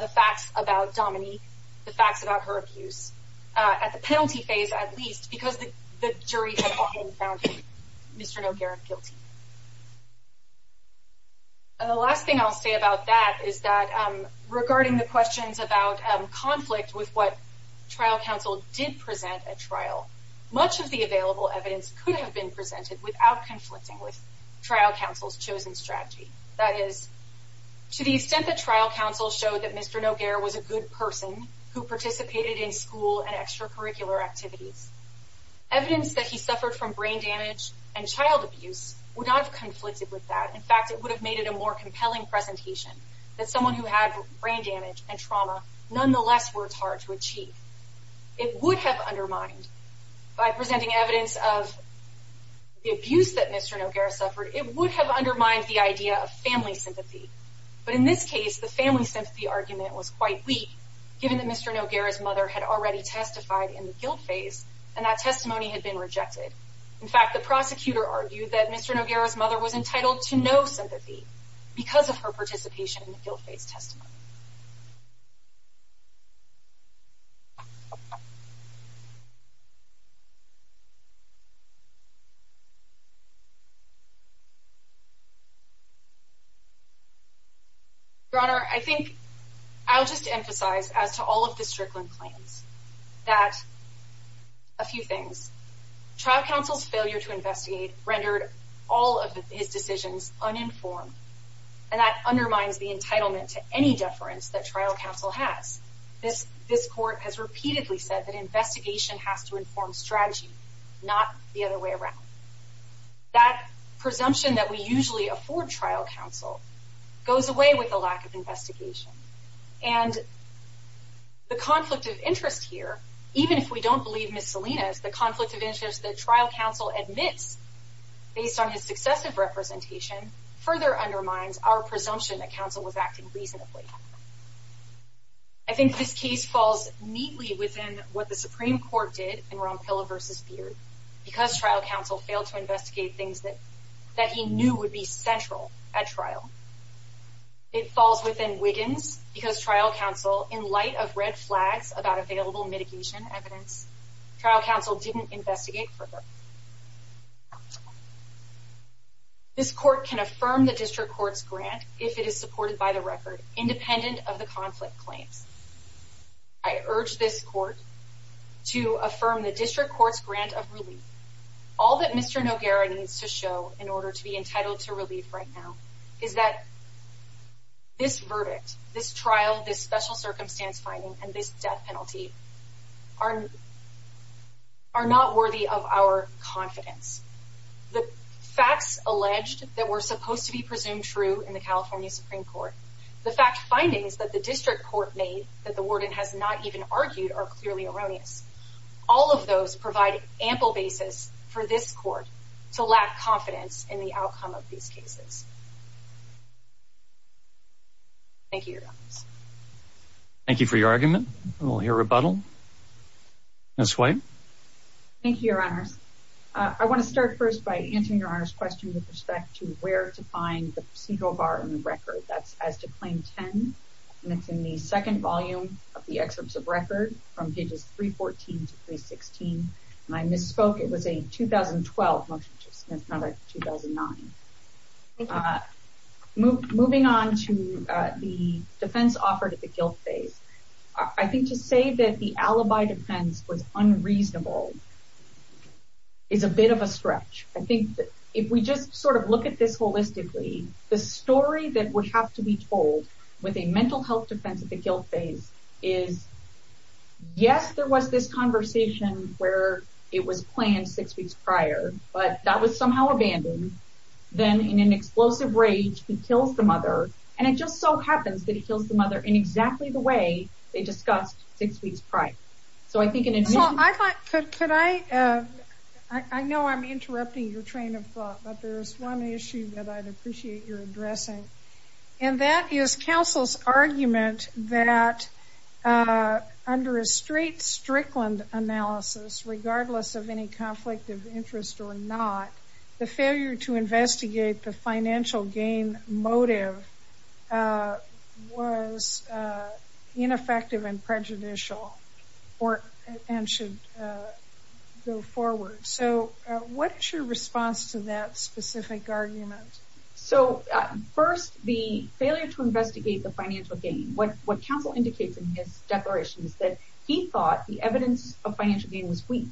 the facts about Dominique, the facts about her abuse at the penalty phase, at least, because the jury had already found Mr. Noguera guilty. And the last thing I'll say about that is that regarding the questions about conflict with what trial counsel did present at trial, much of the available evidence could have been presented without conflicting with trial counsel's chosen strategy. That is, to the extent that trial counsel showed that Mr. Noguera was a good person who participated in school and extracurricular activities, evidence that he suffered from brain damage and child abuse would not have conflicted with that. In fact, it would have made it a more compelling presentation that someone who had brain damage and trauma nonetheless works hard to the abuse that Mr. Noguera suffered, it would have undermined the idea of family sympathy. But in this case, the family sympathy argument was quite weak, given that Mr. Noguera's mother had already testified in the guilt phase, and that testimony had been rejected. In fact, the prosecutor argued that Mr. Noguera's mother was entitled to no sympathy because of her participation in the guilt phase testimony. Your Honor, I think I'll just emphasize, as to all of the Strickland claims, that a few things. Trial counsel's failure to investigate rendered all of his decisions uninformed, and that undermines the entitlement to any deference that trial counsel has. This Court has repeatedly said that investigation has to inform strategy, not the other way around. That presumption that we usually afford trial counsel goes away with the lack of investigation. And the conflict of interest here, even if we don't believe Ms. Salinas, the conflict of interest that trial counsel admits, based on his successive representation, further undermines our presumption that counsel was acting reasonably. I think this case falls neatly within what the Supreme Court did in Rompilla v. Beard, because trial counsel failed to investigate things that he knew would be central at trial. It falls within Wiggins, because trial counsel, in light of red flags about available mitigation evidence, trial counsel didn't investigate further. This Court can affirm the District Court's grant if it is supported by the record, independent of the conflict claims. I urge this Court to affirm the District Court's grant of relief. All that Mr. Noguera needs to show in order to be entitled to relief right now is that this verdict, this trial, this special circumstance finding, and this death penalty are not worthy of our confidence. The facts alleged that were supposed to be presumed true in the California Supreme Court, the fact findings that the District Court made that the Warden has not even argued are clearly erroneous. All of those provide ample basis for this Court to lack confidence in the outcome of these cases. Thank you, Your Honors. Thank you for your argument. We'll hear rebuttal. Ms. White? Thank you, Your Honors. I want to start first by answering Your Honor's question with respect to where to find the procedural bar in the record. That's as to Claim 10, and it's in the second volume of the excerpts of record from pages 314 to 316. And I misspoke. It was a 2012 motion to 2009. Moving on to the defense offered at the guilt phase, I think to say that the alibi defense was unreasonable is a bit of a stretch. I think if we just sort of look at this holistically, the story that would have to be told with a mental health defense at the guilt phase is, yes, there was this conversation where it was planned six weeks prior, but that was somehow abandoned. Then, in an explosive rage, he kills the mother, and it just so happens that he kills the mother in exactly the way they discussed six weeks prior. So, I think in addition... So, I thought, could I... I know I'm interrupting your train of thought, but there's one issue that I'd appreciate your addressing, and that is counsel's argument that under a straight, strickland analysis, regardless of any conflict of interest or not, the failure to investigate the financial gain motive was ineffective and prejudicial and should go forward. So, what's your response to that specific argument? So, first, the failure to investigate the financial gain, what counsel indicates in his declaration is that he thought the evidence of financial gain was weak.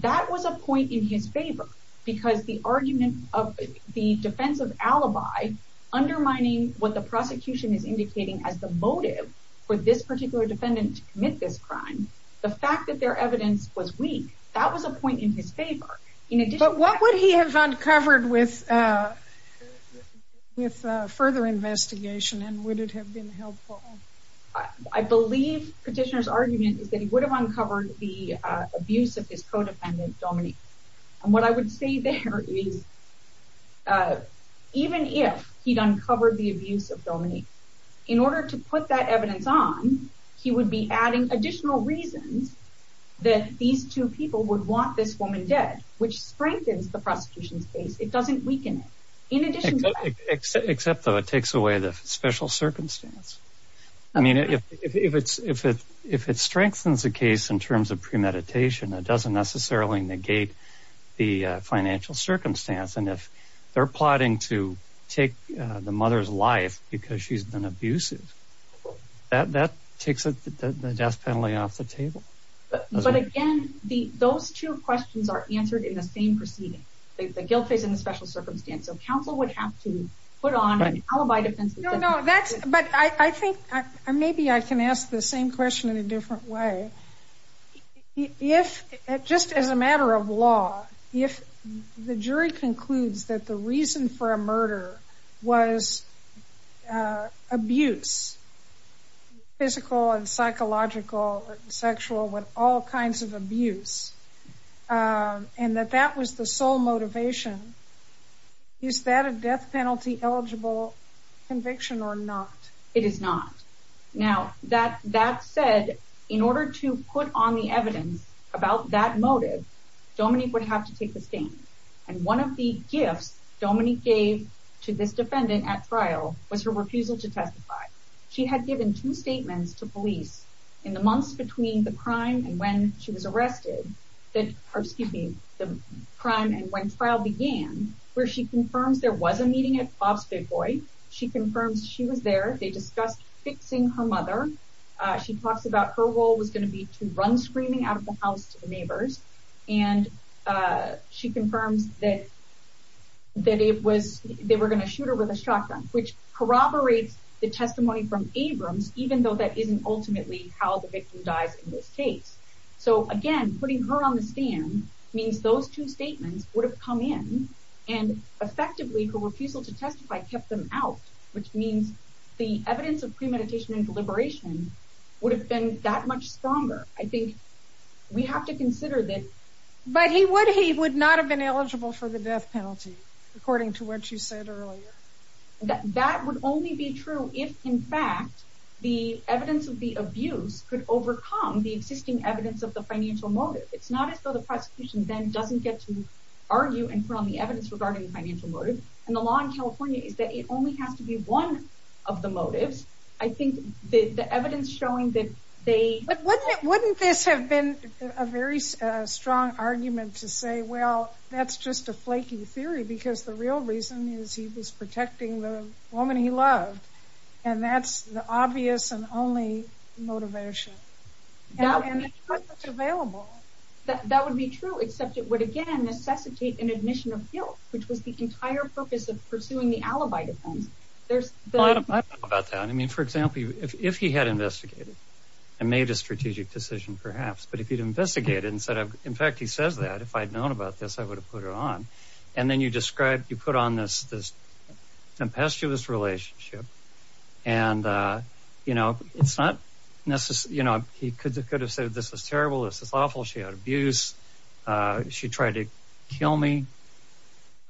That was a point in his favor, because the argument of the defensive alibi undermining what the prosecution is indicating as the motive for this particular defendant to commit this crime. But what would he have uncovered with further investigation, and would it have been helpful? I believe Petitioner's argument is that he would have uncovered the abuse of his co-defendant, Dominique, and what I would say there is even if he'd uncovered the abuse of Dominique, in order to put that evidence on, he would be adding additional reasons that these two people would want this woman dead, which strengthens the prosecution's case. It doesn't weaken it. Except, though, it takes away the special circumstance. I mean, if it strengthens the case in terms of premeditation, it doesn't necessarily negate the financial circumstance, and if they're plotting to take the mother's life because she's been abusive, that takes the death of the mother. Those two questions are answered in the same proceeding, the guilt phase and the special circumstance, so counsel would have to put on an alibi defense. No, no, that's, but I think, maybe I can ask the same question in a different way. If, just as a matter of law, if the jury concludes that the reason for a murder was abuse, physical and psychological and sexual, with all and that that was the sole motivation, is that a death penalty eligible conviction or not? It is not. Now, that said, in order to put on the evidence about that motive, Dominique would have to take the stand, and one of the gifts Dominique gave to this defendant at trial was her refusal to testify. She had given two statements to police in the months between the crime and when she was or, excuse me, the crime and when trial began, where she confirms there was a meeting at Bob's Big Boy. She confirms she was there. They discussed fixing her mother. She talks about her role was going to be to run screaming out of the house to the neighbors, and she confirms that it was, they were going to shoot her with a shotgun, which corroborates the testimony from Abrams, even though that isn't ultimately how the victim dies in this case. So, again, putting her on the stand means those two statements would have come in, and effectively, her refusal to testify kept them out, which means the evidence of premeditation and deliberation would have been that much stronger. I think we have to consider that. But he would, he would not have been eligible for the death penalty, according to what you said earlier. That would only be true if, in fact, the evidence of the abuse could overcome the existing evidence of the financial motive. It's not as though the prosecution then doesn't get to argue and put on the evidence regarding the financial motive, and the law in California is that it only has to be one of the motives. I think the evidence showing that they... But wouldn't this have been a very strong argument to say, well, that's just a flaky theory, because the real reason is he was protecting the woman he loved, and that's the obvious and only motivation. That would be true, except it would, again, necessitate an admission of guilt, which was the entire purpose of pursuing the alibi defense. There's... I don't know about that. I mean, for example, if he had investigated and made a strategic decision, perhaps, but if he'd investigated and said, in fact, he says that, if I'd known about this, I would have put it on. And then you described, you put on this impestuous relationship, and it's not necessarily... He could have said, this is terrible, this is awful, she had abuse, she tried to kill me,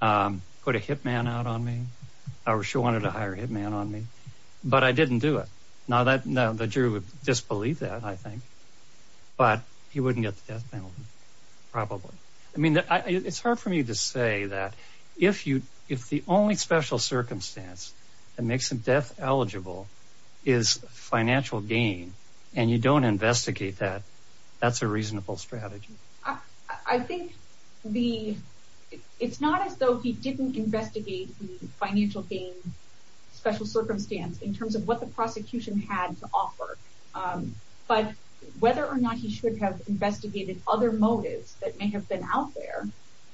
put a hit man out on me, or she wanted to hire a hit man on me, but I didn't do it. Now, the jury would disbelieve that, I think, but he wouldn't get the death penalty, probably. I mean, it's hard for me to say that, if the only special circumstance that makes him death eligible is financial gain, and you don't investigate that, that's a reasonable strategy. I think it's not as though he didn't investigate the financial gain, special circumstance, in terms of what the prosecution had to offer, but whether or not he should have motives that may have been out there,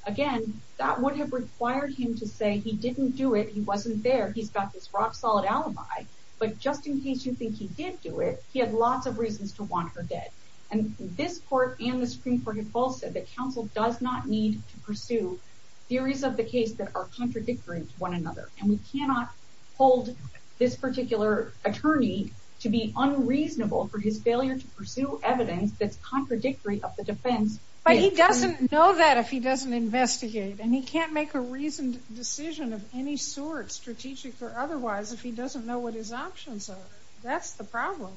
again, that would have required him to say, he didn't do it, he wasn't there, he's got this rock-solid alibi, but just in case you think he did do it, he had lots of reasons to want her dead. And this court and the Supreme Court have both said that counsel does not need to pursue theories of the case that are contradictory to one another, and we cannot hold this particular attorney to be unreasonable for his failure to pursue evidence that's But he doesn't know that if he doesn't investigate, and he can't make a reasoned decision of any sort, strategic or otherwise, if he doesn't know what his options are. That's the problem.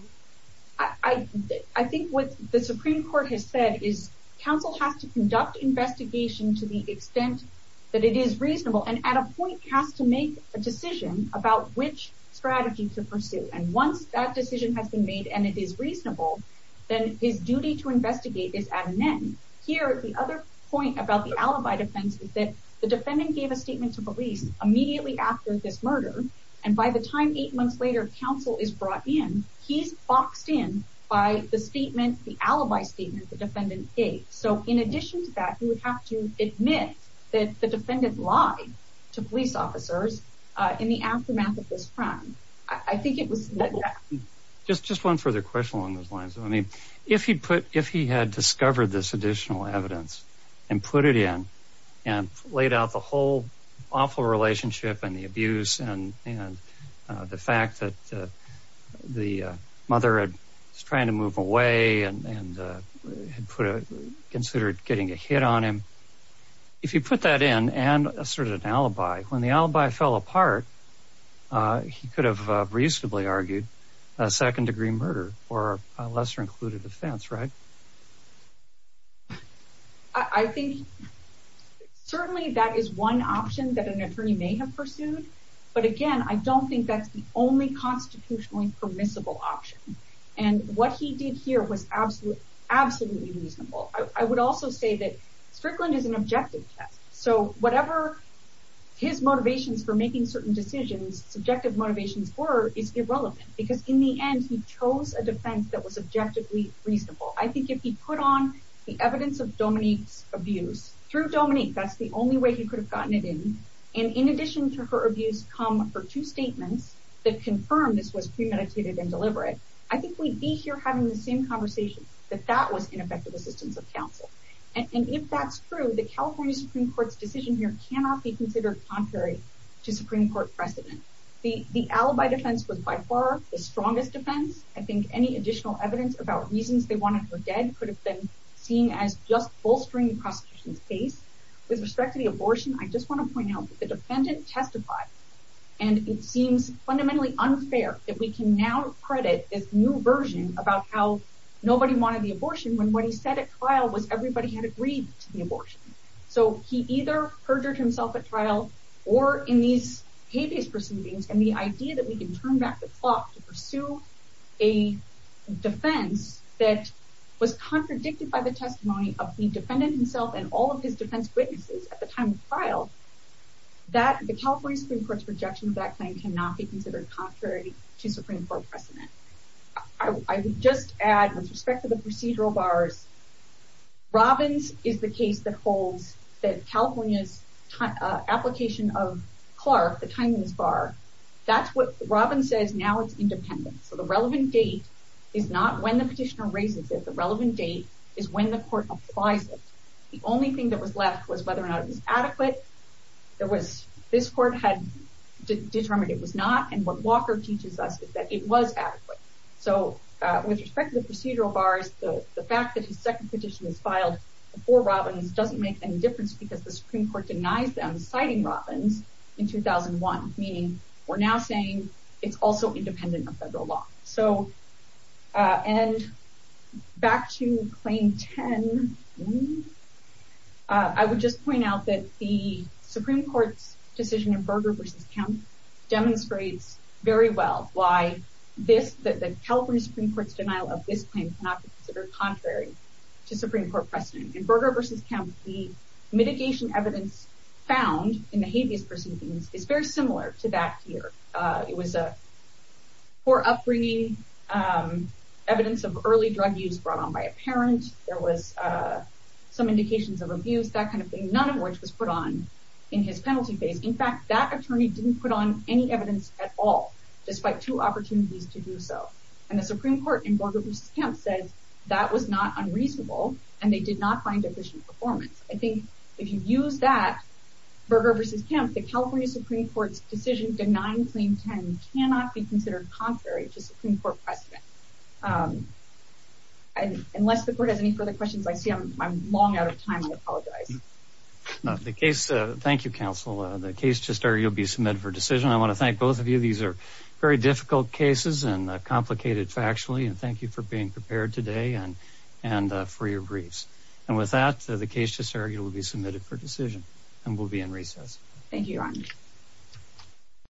I think what the Supreme Court has said is counsel has to conduct investigation to the extent that it is reasonable, and at a point has to make a decision about which strategy to pursue, and once that decision has been made and it is reasonable, then his duty to investigate is at an end. Here, the other point about the alibi defense is that the defendant gave a statement to police immediately after this murder, and by the time eight months later, counsel is brought in, he's boxed in by the statement, the alibi statement the defendant gave. So in addition to that, he would have to admit that the defendant lied to police officers in the aftermath of this crime. I think it was... Just one further question along those lines. I mean, if he had discovered this additional evidence and put it in and laid out the whole awful relationship and the abuse and the fact that the mother was trying to move away and considered getting a hit on him, if he put that in and asserted an alibi, when the alibi fell apart, he could have reasonably argued a second-degree murder or a lesser-included offense, right? I think certainly that is one option that an attorney may have pursued, but again, I don't think that's the only constitutionally permissible option, and what he did here was absolutely reasonable. I would also say that Strickland is an objective test, so whatever his motivations for making certain decisions, subjective motivations were, is irrelevant, because in the end, he chose a defense that was objectively reasonable. I think if he put on the evidence of Dominique's abuse, through Dominique, that's the only way he could have gotten it in, and in addition to her abuse come her two statements that confirm this was premeditated and deliberate, I think we'd be here having the same conversation, that that was ineffective assistance of counsel. And if that's true, the California Supreme Court's decision here cannot be considered contrary to Supreme Court precedent. The alibi defense was by far the strongest defense. I think any additional evidence about reasons they wanted her dead could have been seen as just bolstering the prosecution's case. With respect to the abortion, I just want to point out that the defendant testified, and it seems fundamentally unfair that we can now credit this new version about how nobody wanted the abortion when what he said at trial was everybody had agreed to the abortion. So he either perjured himself at trial, or in these hate-based proceedings, and the idea that we can turn back the clock to pursue a defense that was contradicted by the testimony of the defendant himself and all of his defense witnesses at the time of trial, that the California Supreme Court's rejection of that claim cannot be considered contrary to Supreme Court precedent. I would just add, with respect to the procedural bars, Robbins is the case that holds that California's application of Clark, the timeliness bar, that's what Robbins says now it's independent. So the relevant date is not when the petitioner raises it. The relevant date is when the court applies it. The only thing that was left was whether or not it was adequate. This court had determined it was not, and what Walker teaches is that it was adequate. So with respect to the procedural bars, the fact that his second petition was filed before Robbins doesn't make any difference because the Supreme Court denies them citing Robbins in 2001, meaning we're now saying it's also independent of federal law. And back to claim 10, I would just point out that the Supreme Court's decision in Berger v. Kemp demonstrates very well why the California Supreme Court's denial of this claim cannot be considered contrary to Supreme Court precedent. In Berger v. Kemp, the mitigation evidence found in the habeas proceedings is very similar to that here. It was a poor upbringing, evidence of early drug use brought on by a parent, there was some indications of abuse, none of which was put on in his penalty phase. In fact, that attorney didn't put on any evidence at all, despite two opportunities to do so. And the Supreme Court in Berger v. Kemp said that was not unreasonable, and they did not find efficient performance. I think if you use that, Berger v. Kemp, the California Supreme Court's decision denying claim 10 cannot be considered contrary to Supreme Court precedent. Unless the court has any further questions, I see I'm long out of time, I apologize. No, the case, thank you, counsel. The case to start, you'll be submitted for decision. I want to thank both of you. These are very difficult cases and complicated factually, and thank you for being prepared today and for your briefs. And with that, the case to start, you will be submitted for decision, and we'll be in recess. Thank you, Your Honor.